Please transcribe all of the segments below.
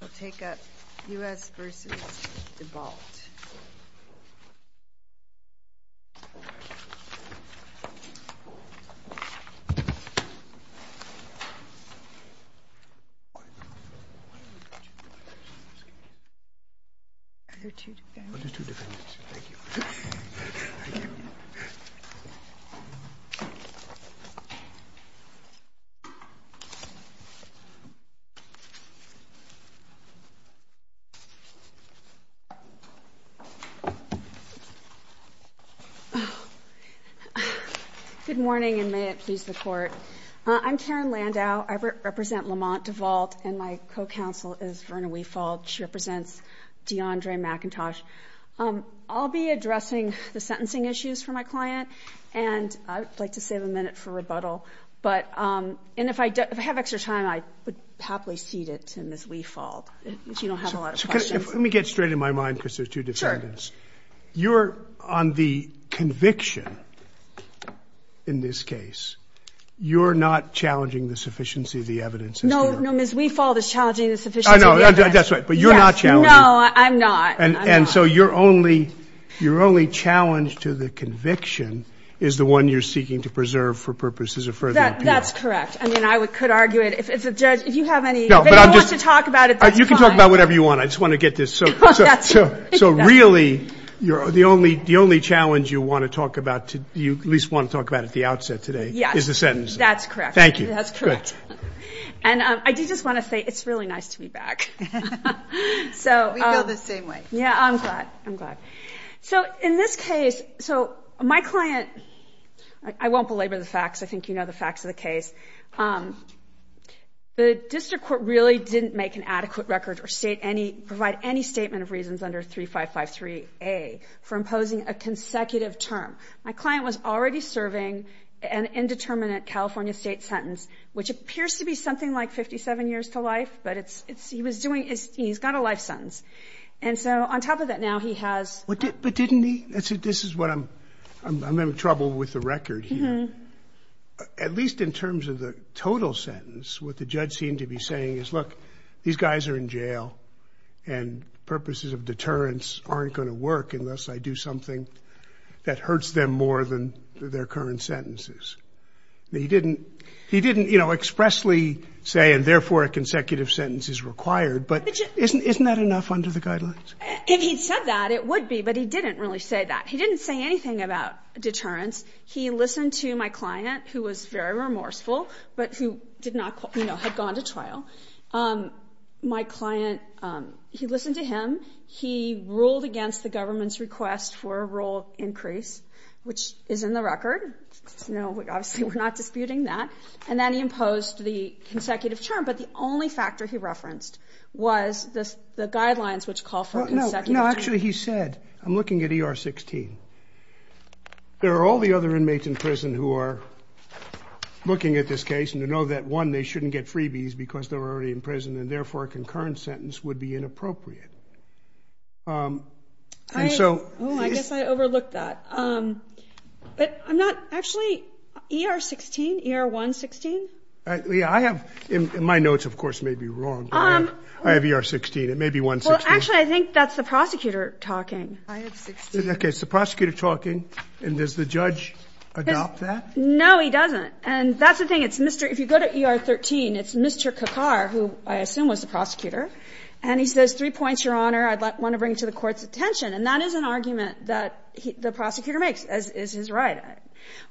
We'll take up U.S. v. Devault Good morning, and may it please the Court. I'm Karen Landau. I represent Lamont Devault, and my co-counsel is Verna Weefald. She represents DeAndre McIntosh. I'll be addressing the sentencing issues for my client, and I'd like to save a minute for rebuttal. And if I have extra time, I would happily cede it to Ms. Weefald, if you don't have a lot of questions. Let me get straight in my mind, because there's two defendants. You're on the conviction in this case. You're not challenging the sufficiency of the evidence. No, no, Ms. Weefald is challenging the sufficiency of the evidence. I know, that's right, but you're not challenging. No, I'm not. And so your only challenge to the conviction is the one you're seeking to preserve for purposes of further appeal. That's correct. I mean, I could argue it. If you have any, if anyone wants to talk about it, that's fine. You can talk about whatever you want. I just want to get this. So really, the only challenge you want to talk about, you at least want to talk about at the outset today, is the sentence. Yes, that's correct. Thank you. That's correct. And I do just want to say, it's really nice to be back. We feel the same way. Yeah, I'm glad. I'm glad. So in this case, so my client, I won't belabor the facts. I won't belabor the facts of this case. The district court really didn't make an adequate record or state any, provide any statement of reasons under 3553A for imposing a consecutive term. My client was already serving an indeterminate California state sentence, which appears to be something like 57 years to life, but it's, it's, he was doing, he's got a life sentence. And so on top of that, now he has... But didn't he? This is what I'm, I'm having trouble with the record here. At least in terms of the total sentence, what the judge seemed to be saying is, look, these guys are in jail and purposes of deterrence aren't going to work unless I do something that hurts them more than their current sentences. He didn't, he didn't expressly say, and therefore a consecutive sentence is required, but isn't, isn't that enough under the guidelines? If he'd said that, it would be, but he didn't really say that. He didn't say anything about remorseful, but who did not, you know, had gone to trial. My client, he listened to him. He ruled against the government's request for a rule increase, which is in the record. You know, obviously we're not disputing that. And then he imposed the consecutive term. But the only factor he referenced was this, the guidelines, which call for consecutive term. No, actually he said, I'm looking at ER 16. There are all the other inmates in prison who are looking at this case and to know that one, they shouldn't get freebies because they're already in prison and therefore a concurrent sentence would be inappropriate. Um, and so, Oh, I guess I overlooked that. Um, but I'm not actually ER 16, ER 116. Yeah, I have in my notes, of course, may be wrong. I have ER 16. It may be 116. Actually, I think that's the prosecutor talking. I have 16. Okay, it's the prosecutor talking. And does the judge adopt that? No, he doesn't. And that's the thing. It's Mr. If you go to ER 13, it's Mr. Kakar, who I assume was the prosecutor. And he says, three points, Your Honor, I'd want to bring to the court's attention. And that is an argument that the prosecutor makes, as is his right.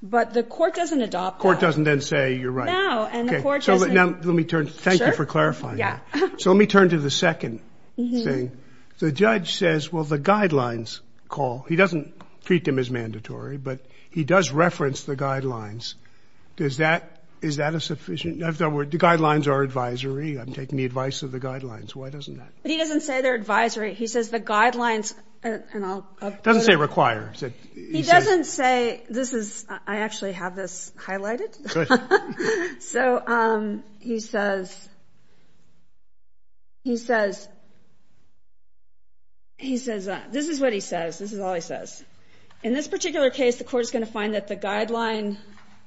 But the court doesn't adopt that. Court doesn't then say, you're right. No, and the court doesn't. Okay, so let me turn. Thank you for clarifying that. So let me turn to the second thing. The judge says, well, the guidelines call. He doesn't treat them as mandatory, but he does reference the guidelines. Does that, is that a sufficient, in other words, the guidelines are advisory. I'm taking the advice of the guidelines. Why doesn't that? But he doesn't say they're advisory. He says the guidelines, and I'll, He doesn't say require. He doesn't say, this is, I actually have this highlighted. So he says, he says, he says, this is what he says. This is all he says. In this particular case, the court is going to find that the guideline,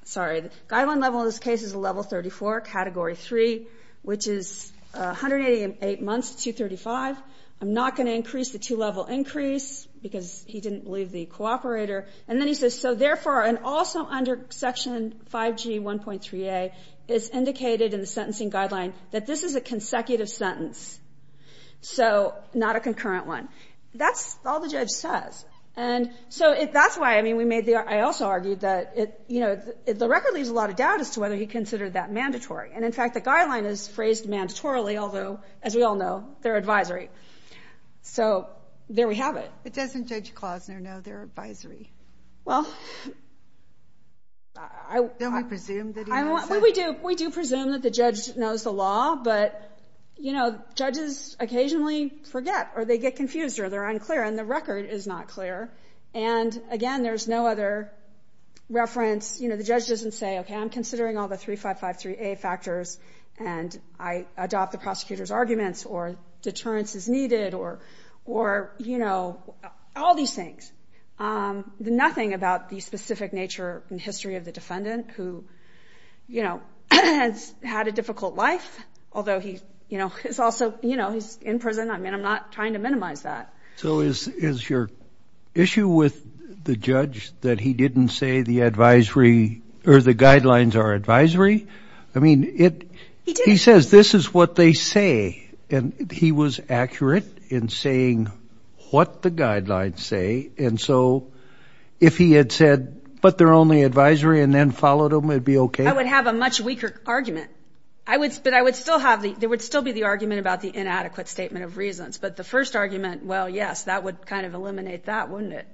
sorry, the guideline level in this case is a level 34, category 3, which is 188 months to 235. I'm not going to increase the two-level increase because he didn't leave the cooperator. And then he says, so therefore, and also under section 5G 1.3a, it's indicated in the sentencing guideline that this is a consecutive sentence, so not a concurrent one. That's all the judge says. And so that's why, I mean, we made the, I also argued that it, you know, the record leaves a lot of doubt as to whether he considered that mandatory. And in fact, the guideline is phrased mandatorily, although, as we all know, they're advisory. So there we have it. But doesn't Judge Klosner know they're advisory? Well, we do presume that the judge knows the law, but, you know, judges occasionally forget, or they get confused, or they're unclear, and the record is not clear. And again, there's no other reference. You know, the judge doesn't say, okay, I'm considering all the 3553a factors, and I adopt the prosecutor's arguments, or deterrence is needed, or, you know, all these things. Nothing about the specific nature and history of the defendant who, you know, has had a difficult life, although he's also, you know, he's in prison. I mean, I'm not trying to minimize that. So is your issue with the judge that he didn't say the advisory, or the guidelines are advisory? I mean, he says this is what they say, and he was accurate in saying what the guidelines say. And so if he had said, but they're only advisory, and then followed them, it'd be okay? I would have a much weaker argument. I would, but I would still have the, there would still be the argument about the inadequate statement of reasons. But the first argument, well, yes, that would kind of eliminate that, wouldn't it?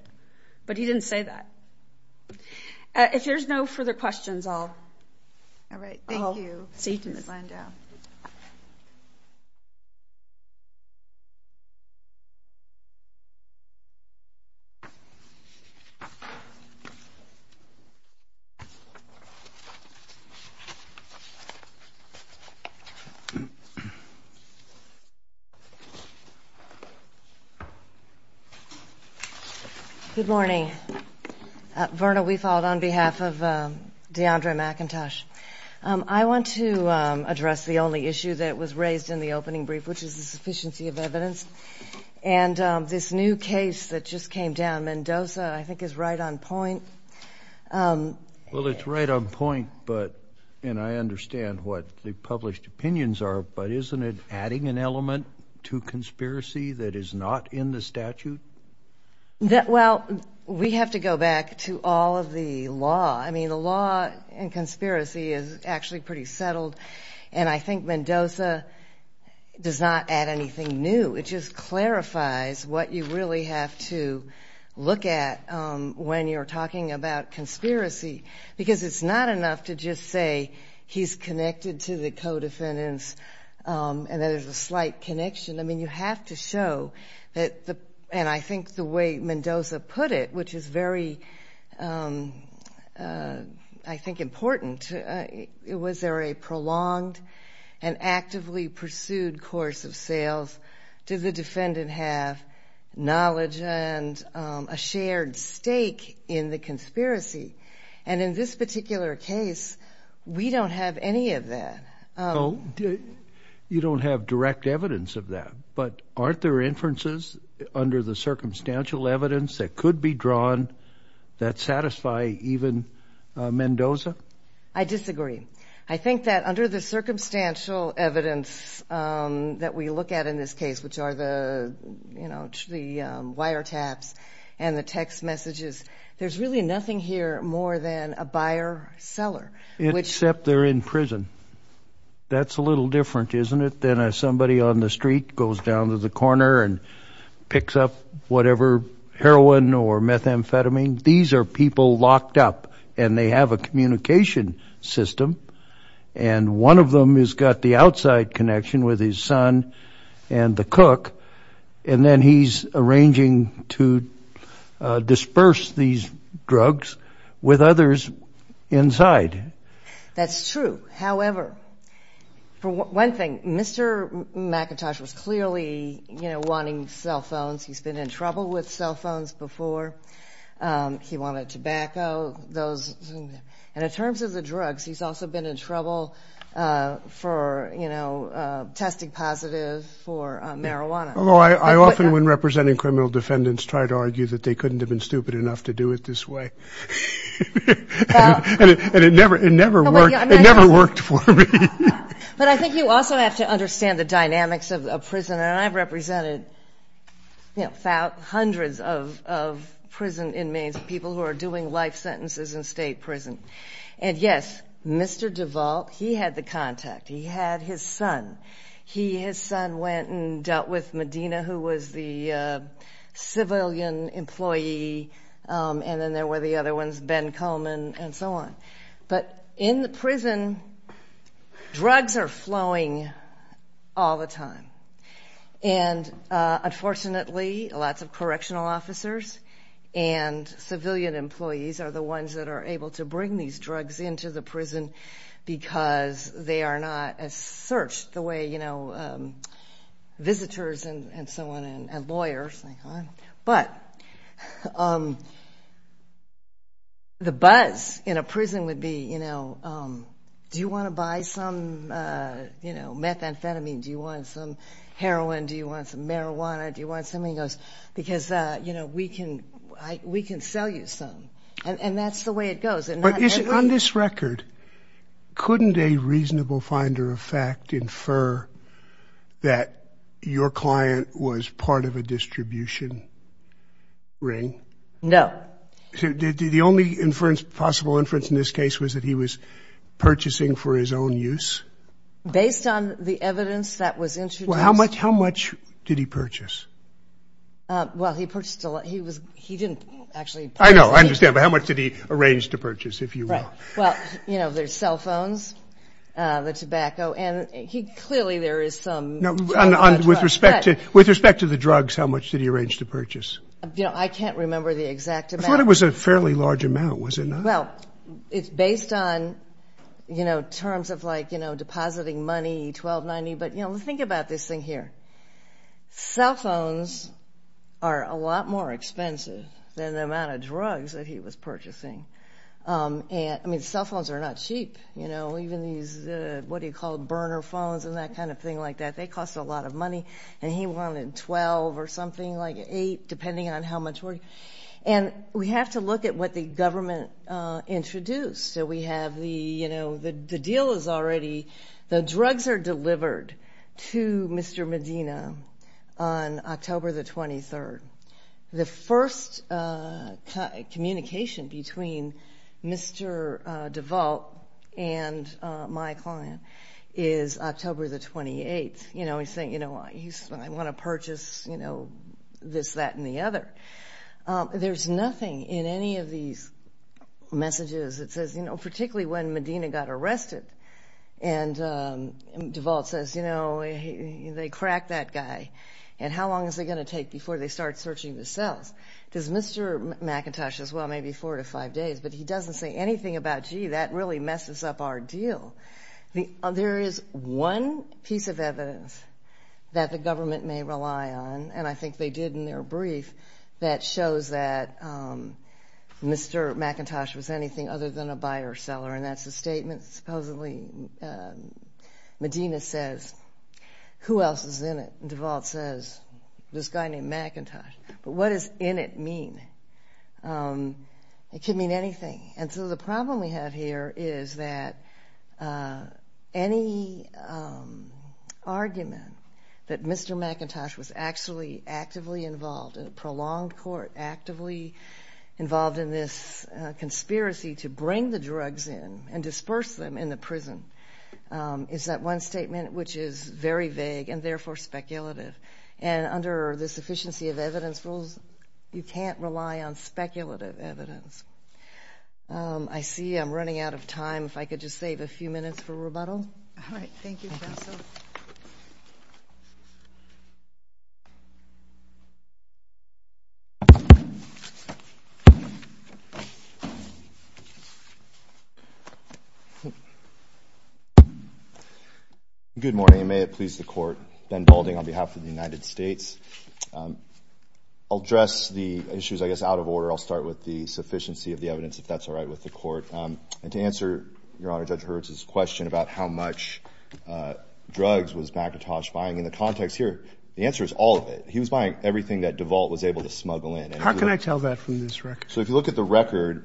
But he didn't say that. If there's no further questions, I'll... All right, thank you. See you, Ms. Glenda. Good morning. Verna Weefald on behalf of DeAndre McIntosh. I want to address the only issue that was raised in the opening brief, which is the sufficiency of evidence. And this new case that just came down, Mendoza, I think is right on point. Well, it's right on point, but, and I understand what the published opinions are, but isn't it adding an element to conspiracy that is not in the statute? Well, we have to go back to all of the law. I mean, the law in conspiracy is actually pretty settled, and I think Mendoza does not add anything new. It just clarifies what you really have to look at when you're talking about conspiracy, because it's not enough to just say he's connected to the co-defendants and that there's a slight connection. I mean, you have to show that, and I think the way Mendoza put it, which is very, I think, important, was there a prolonged and actively pursued course of sales? Did the defendant have knowledge and a shared stake in the conspiracy? And in this particular case, we don't have any of that. So you don't have direct evidence of that, but aren't there inferences under the circumstantial evidence that could be drawn that satisfy even Mendoza? I disagree. I think that under the circumstantial evidence that we look at in this case, which are the wiretaps and the text messages, there's really nothing here more than a buyer-seller. Except they're in prison. That's a little different, isn't it, than if somebody on the street goes down to the corner and picks up whatever heroin or methamphetamine. These are people locked up, and they have a communication system, and one of them has got the outside connection with his son and the cook, and then he's arranging to disperse these drugs with others inside. That's true. However, for one thing, Mr. McIntosh was clearly wanting cell phones. He's been in trouble with cell phones before. He wanted tobacco. And in terms of the drugs, he's also been in trouble for testing positive for marijuana. Although I often, when representing criminal defendants, try to argue that they couldn't have been stupid enough to do it this way, and it never worked for me. But I think you also have to understand the dynamics of prison, and I've represented hundreds of prison inmates, people who are doing life sentences in state prison. And, yes, Mr. DeVault, he had the contact. He had his son. His son went and dealt with Medina, who was the civilian employee, and then there were the other ones, Ben Coleman and so on. But in the prison, drugs are flowing all the time. And, unfortunately, lots of correctional officers and civilian employees are the ones that are able to bring these drugs into the prison because they are not as searched the way visitors and so on and lawyers. But the buzz in a prison would be, you know, do you want to buy some methamphetamine? Do you want some heroin? Do you want some marijuana? Do you want something else? Because, you know, we can sell you some. And that's the way it goes. On this record, couldn't a reasonable finder of fact infer that your client was part of a distribution ring? No. The only possible inference in this case was that he was purchasing for his own use? Based on the evidence that was introduced. Well, how much did he purchase? Well, he purchased a lot. He didn't actually purchase. I know. I understand. But how much did he arrange to purchase, if you will? Right. Well, you know, there's cell phones, the tobacco. And he clearly there is some. With respect to the drugs, how much did he arrange to purchase? You know, I can't remember the exact amount. I thought it was a fairly large amount. Was it not? Well, it's based on, you know, terms of like, you know, depositing money, $1,290. But, you know, think about this thing here. Cell phones are a lot more expensive than the amount of drugs that he was purchasing. I mean, cell phones are not cheap. You know, even these, what do you call them, burner phones and that kind of thing like that. They cost a lot of money. And he wanted $12 or something, like $8, depending on how much. And we have to look at what the government introduced. So we have the, you know, the deal is already the drugs are delivered to Mr. Medina on October the 23rd. The first communication between Mr. DeVault and my client is October the 28th. You know, he's saying, you know, I want to purchase, you know, this, that, and the other. There's nothing in any of these messages that says, you know, particularly when Medina got arrested. And DeVault says, you know, they cracked that guy. And how long is it going to take before they start searching the cells? Because Mr. McIntosh says, well, maybe four to five days. But he doesn't say anything about, gee, that really messes up our deal. There is one piece of evidence that the government may rely on, and I think they did in their brief, that shows that Mr. McIntosh was anything other than a buyer-seller. And that's a statement. Supposedly Medina says, who else is in it? And DeVault says, this guy named McIntosh. But what does in it mean? It could mean anything. And so the problem we have here is that any argument that Mr. McIntosh was actually actively involved, a prolonged court, actively involved in this conspiracy to bring the drugs in and disperse them in the prison is that one statement which is very vague and therefore speculative. And under the sufficiency of evidence rules, you can't rely on speculative evidence. I see I'm running out of time. If I could just save a few minutes for rebuttal. All right. Thank you, Counsel. Good morning, and may it please the Court. Ben Balding on behalf of the United States. I'll address the issues, I guess, out of order. I'll start with the sufficiency of the evidence, if that's all right with the Court. And to answer, Your Honor, Judge Hertz's question about how much drugs was McIntosh buying, in the context here, the answer is all of it. He was buying everything that DeVault was able to smuggle in. How can I tell that from this record? So if you look at the record,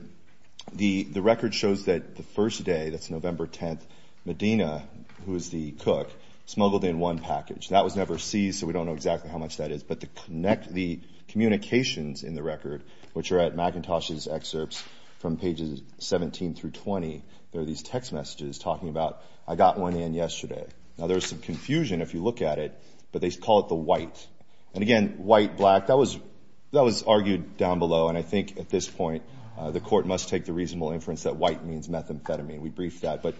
the record shows that the first day, that's November 10th, Medina, who is the cook, smuggled in one package. That was never seized, so we don't know exactly how much that is. But the communications in the record, which are at McIntosh's excerpts from pages 17 through 20, there are these text messages talking about, I got one in yesterday. Now, there's some confusion if you look at it, but they call it the white. And again, white, black, that was argued down below, and I think at this point the Court must take the reasonable inference that white means methamphetamine. We briefed that. But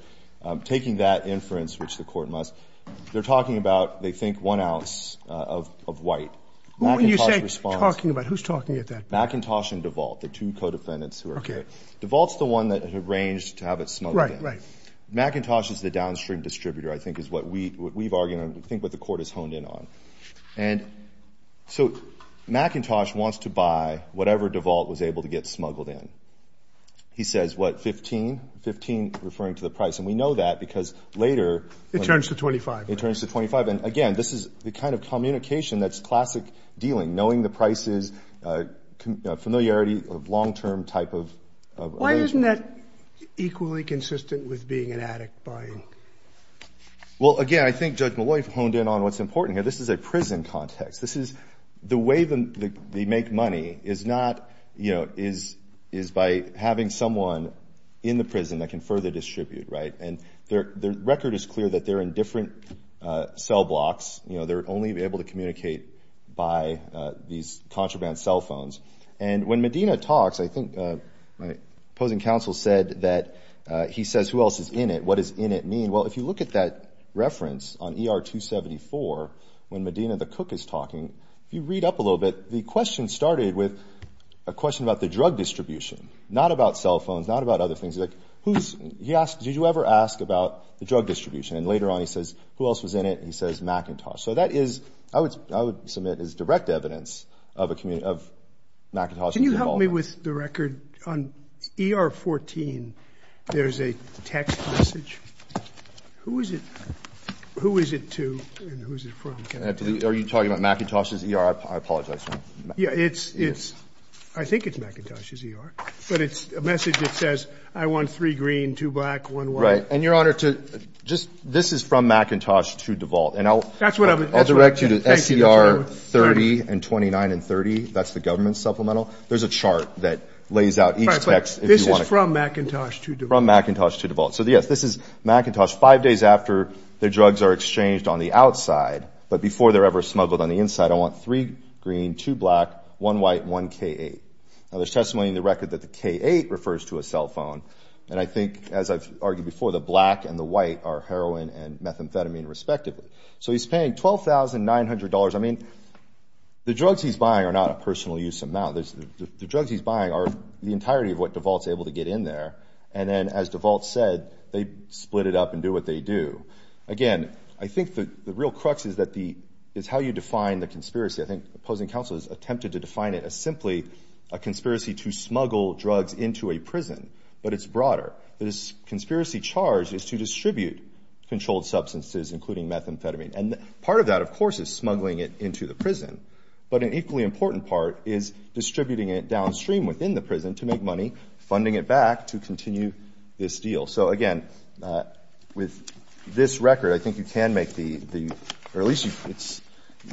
taking that inference, which the Court must, they're talking about, they think one ounce of white. McIntosh responds. When you say talking about, who's talking about that? McIntosh and DeVault, the two co-defendants who are here. DeVault's the one that arranged to have it smuggled in. Right, right. McIntosh is the downstream distributor, I think, is what we've argued, I think what the Court has honed in on. And so McIntosh wants to buy whatever DeVault was able to get smuggled in. He says, what, 15? 15 referring to the price. And we know that because later. It turns to 25. It turns to 25. And again, this is the kind of communication that's classic dealing, knowing the prices, familiarity, long-term type of arrangement. Why isn't that equally consistent with being an addict buying? Well, again, I think Judge Molloy honed in on what's important here. This is a prison context. The way they make money is by having someone in the prison that can further distribute. And the record is clear that they're in different cell blocks. They're only able to communicate by these contraband cell phones. And when Medina talks, I think my opposing counsel said that he says, who else is in it? What does in it mean? Well, if you look at that reference on ER 274 when Medina the cook is talking, if you read up a little bit, the question started with a question about the drug distribution, not about cell phones, not about other things. He's like, who's he asked, did you ever ask about the drug distribution? And later on, he says, who else was in it? He says McIntosh. So that is, I would submit, is direct evidence of McIntosh and DeVault. Can you help me with the record on ER 14? There's a text message. Who is it? Who is it to and who is it from? Are you talking about McIntosh's ER? I apologize. Yeah, it's, I think it's McIntosh's ER. But it's a message that says, I want three green, two black, one white. Right. And, Your Honor, to just, this is from McIntosh to DeVault. And I'll direct you to SCR 30 and 29 and 30. That's the government supplemental. There's a chart that lays out each text. Right, but this is from McIntosh to DeVault. From McIntosh to DeVault. So, yes, this is McIntosh five days after their drugs are exchanged on the outside. But before they're ever smuggled on the inside, I want three green, two black, one white, one K-8. Now, there's testimony in the record that the K-8 refers to a cell phone. And I think, as I've argued before, the black and the white are heroin and methamphetamine, respectively. So he's paying $12,900. I mean, the drugs he's buying are not a personal use amount. The drugs he's buying are the entirety of what DeVault's able to get in there. And then, as DeVault said, they split it up and do what they do. Again, I think the real crux is how you define the conspiracy. I think the opposing counsel has attempted to define it as simply a conspiracy to smuggle drugs into a prison. But it's broader. The conspiracy charge is to distribute controlled substances, including methamphetamine. And part of that, of course, is smuggling it into the prison. But an equally important part is distributing it downstream within the prison to make money, funding it back to continue this deal. So, again, with this record, I think you can make the, or at least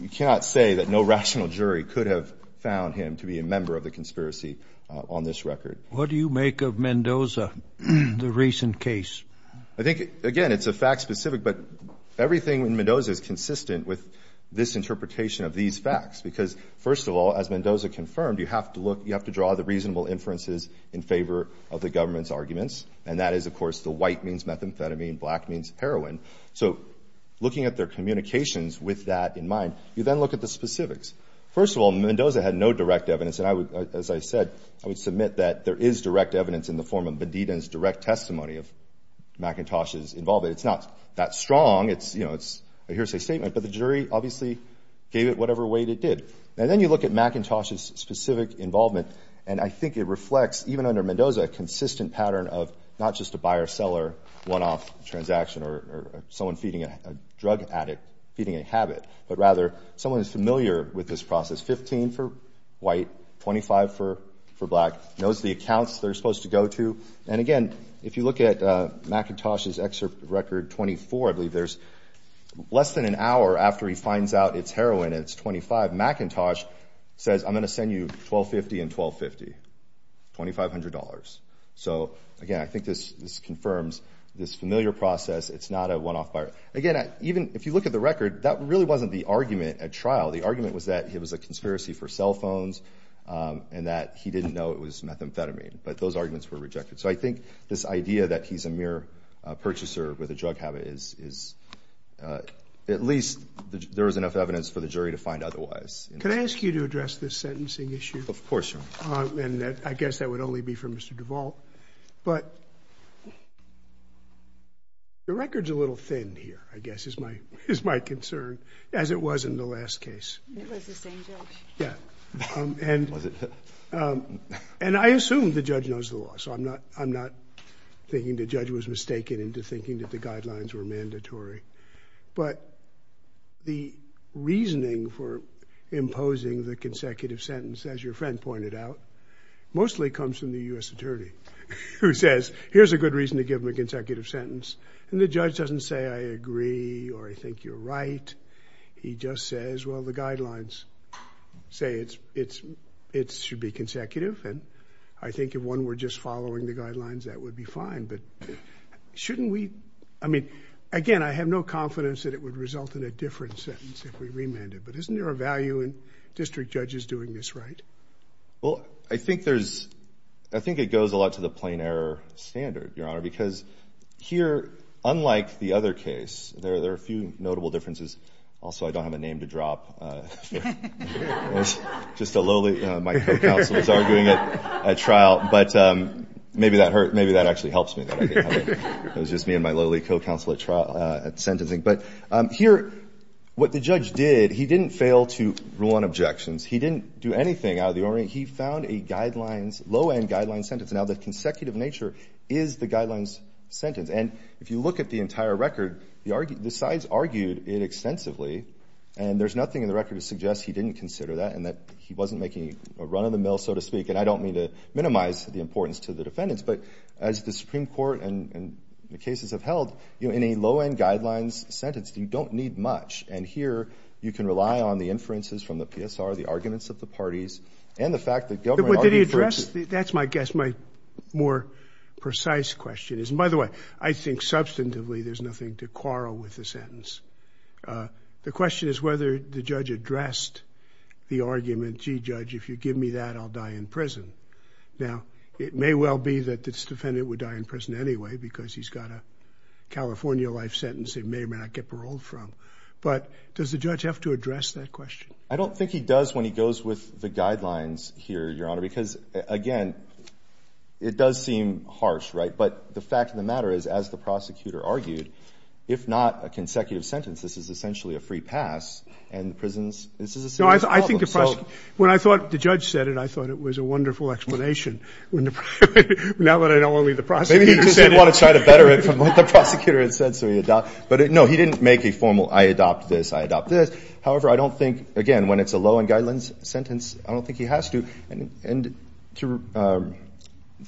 you cannot say that no rational jury could have found him to be a member of the conspiracy on this record. What do you make of Mendoza, the recent case? I think, again, it's a fact-specific, but everything in Mendoza is consistent with this interpretation of these facts. Because, first of all, as Mendoza confirmed, you have to look, you have to draw the reasonable inferences in favor of the government's arguments. And that is, of course, the white means methamphetamine, black means heroin. So, looking at their communications with that in mind, you then look at the specifics. First of all, Mendoza had no direct evidence. And I would, as I said, I would submit that there is direct evidence in the form of Bedida's direct testimony of McIntosh's involvement. It's not that strong. It's, you know, it's a hearsay statement. But the jury obviously gave it whatever weight it did. And then you look at McIntosh's specific involvement, and I think it reflects, even under Mendoza, a consistent pattern of not just a buyer-seller one-off transaction or someone feeding a drug addict, feeding a habit, but rather someone who's familiar with this process, 15 for white, 25 for black, knows the accounts they're supposed to go to. And, again, if you look at McIntosh's excerpt record 24, I believe there's less than an hour after he finds out it's heroin and it's 25, McIntosh says, I'm going to send you $1,250 and $1,250, $2,500. So, again, I think this confirms this familiar process. It's not a one-off buyer. Again, even if you look at the record, that really wasn't the argument at trial. The argument was that it was a conspiracy for cell phones and that he didn't know it was methamphetamine. But those arguments were rejected. So I think this idea that he's a mere purchaser with a drug habit is at least there was enough evidence for the jury to find otherwise. Can I ask you to address this sentencing issue? Of course, Your Honor. And I guess that would only be for Mr. Duvall. But the record's a little thin here, I guess, is my concern, as it was in the last case. It was the same judge. Yeah. And I assume the judge knows the law, so I'm not thinking the judge was mistaken into thinking that the guidelines were mandatory. But the reasoning for imposing the consecutive sentence, as your friend pointed out, mostly comes from the U.S. attorney, who says, here's a good reason to give him a consecutive sentence. And the judge doesn't say, I agree or I think you're right. He just says, well, the guidelines say it should be consecutive. And I think if one were just following the guidelines, that would be fine. But shouldn't we – I mean, again, I have no confidence that it would result in a different sentence if we remanded. But isn't there a value in district judges doing this right? Well, I think there's – I think it goes a lot to the plain error standard, Your Honor, because here, unlike the other case, there are a few notable differences. Also, I don't have a name to drop. It was just a lowly – my co-counsel is arguing at trial. But maybe that actually helps me. It was just me and my lowly co-counsel at sentencing. But here, what the judge did, he didn't fail to rule on objections. He didn't do anything out of the ordinary. He found a guidelines – low-end guidelines sentence. Now, the consecutive nature is the guidelines sentence. And if you look at the entire record, the sides argued it extensively. And there's nothing in the record that suggests he didn't consider that and that he wasn't making a run-of-the-mill, so to speak. And I don't mean to minimize the importance to the defendants. But as the Supreme Court and the cases have held, in a low-end guidelines sentence, you don't need much. And here, you can rely on the inferences from the PSR, the arguments of the parties, and the fact that – But did he address – that's my guess. My more precise question is – and by the way, I think substantively there's nothing to quarrel with the sentence. The question is whether the judge addressed the argument, gee, judge, if you give me that, I'll die in prison. Now, it may well be that this defendant would die in prison anyway because he's got a California life sentence he may or may not get paroled from. But does the judge have to address that question? I don't think he does when he goes with the guidelines here, Your Honor, because, again, it does seem harsh, right? But the fact of the matter is, as the prosecutor argued, if not a consecutive sentence, this is essentially a free pass, and the prison's – this is a serious problem. No, I think the – when I thought the judge said it, I thought it was a wonderful explanation. Now that I know only the prosecutor said it. Maybe he just didn't want to try to better it from what the prosecutor had said, so he adopted it. But, no, he didn't make a formal, I adopt this, I adopt this. However, I don't think – again, when it's a low-end guidelines sentence, I don't think he has to. And to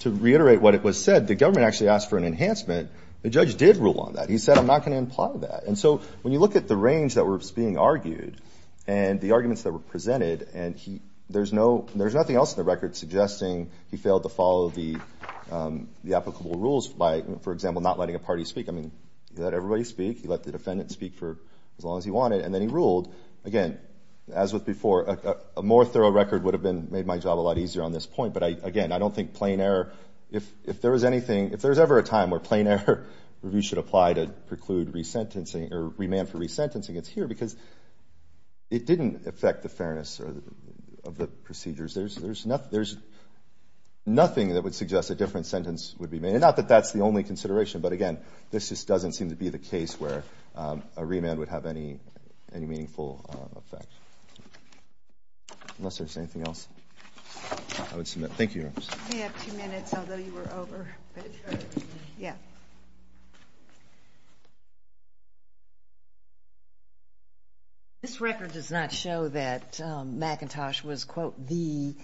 reiterate what was said, the government actually asked for an enhancement. The judge did rule on that. He said, I'm not going to imply that. And so when you look at the range that was being argued and the arguments that were presented, and there's no – there's nothing else in the record suggesting he failed to follow the applicable rules by, for example, not letting a party speak. I mean, he let everybody speak. He let the defendant speak for as long as he wanted. And then he ruled. Again, as with before, a more thorough record would have made my job a lot easier on this point. But, again, I don't think plain error – if there was anything – if there was ever a time where plain error review should apply to preclude resentencing or remand for resentencing, it's here because it didn't affect the fairness of the procedures. There's nothing that would suggest a different sentence would be made. And not that that's the only consideration, but, again, this just doesn't seem to be the case where a remand would have any meaningful effect. Unless there's anything else I would submit. Thank you. We have two minutes, although you were over. Yeah. This record does not show that McIntosh was, quote, the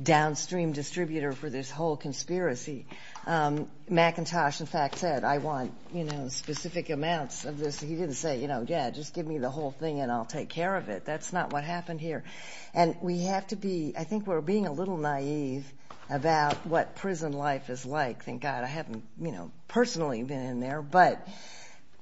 downstream distributor for this whole conspiracy. McIntosh, in fact, said, I want, you know, specific amounts of this. He didn't say, you know, yeah, just give me the whole thing and I'll take care of it. That's not what happened here. And we have to be – I think we're being a little naive about what prison life is like. Thank God I haven't, you know, personally been in there. But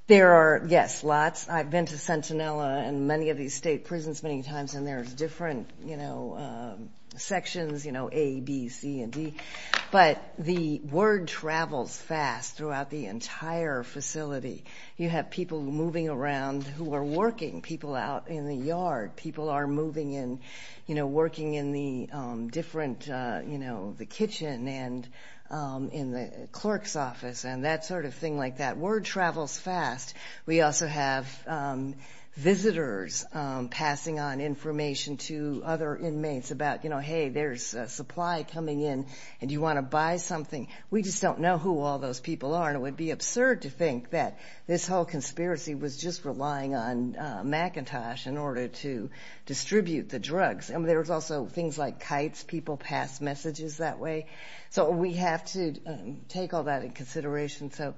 there are, yes, lots. I've been to Sentinella and many of these state prisons many times, and there's different, you know, sections, you know, A, B, C, and D. But the word travels fast throughout the entire facility. You have people moving around who are working, people out in the yard, people are moving in, you know, working in the different, you know, the kitchen and in the clerk's office and that sort of thing like that. Word travels fast. We also have visitors passing on information to other inmates about, you know, hey, there's a supply coming in and you want to buy something. We just don't know who all those people are, and it would be absurd to think that this whole conspiracy was just relying on McIntosh in order to distribute the drugs. And there's also things like kites, people pass messages that way. So we have to take all that into consideration. So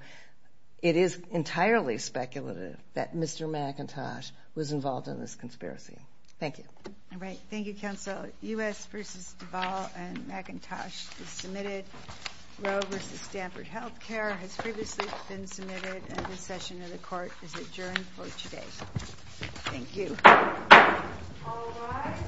it is entirely speculative that Mr. McIntosh was involved in this conspiracy. Thank you. All right. Thank you, counsel. U.S. v. Duval and McIntosh is submitted. Rowe v. Stanford Health Care has previously been submitted, and this session of the court is adjourned for today. Thank you. All rise.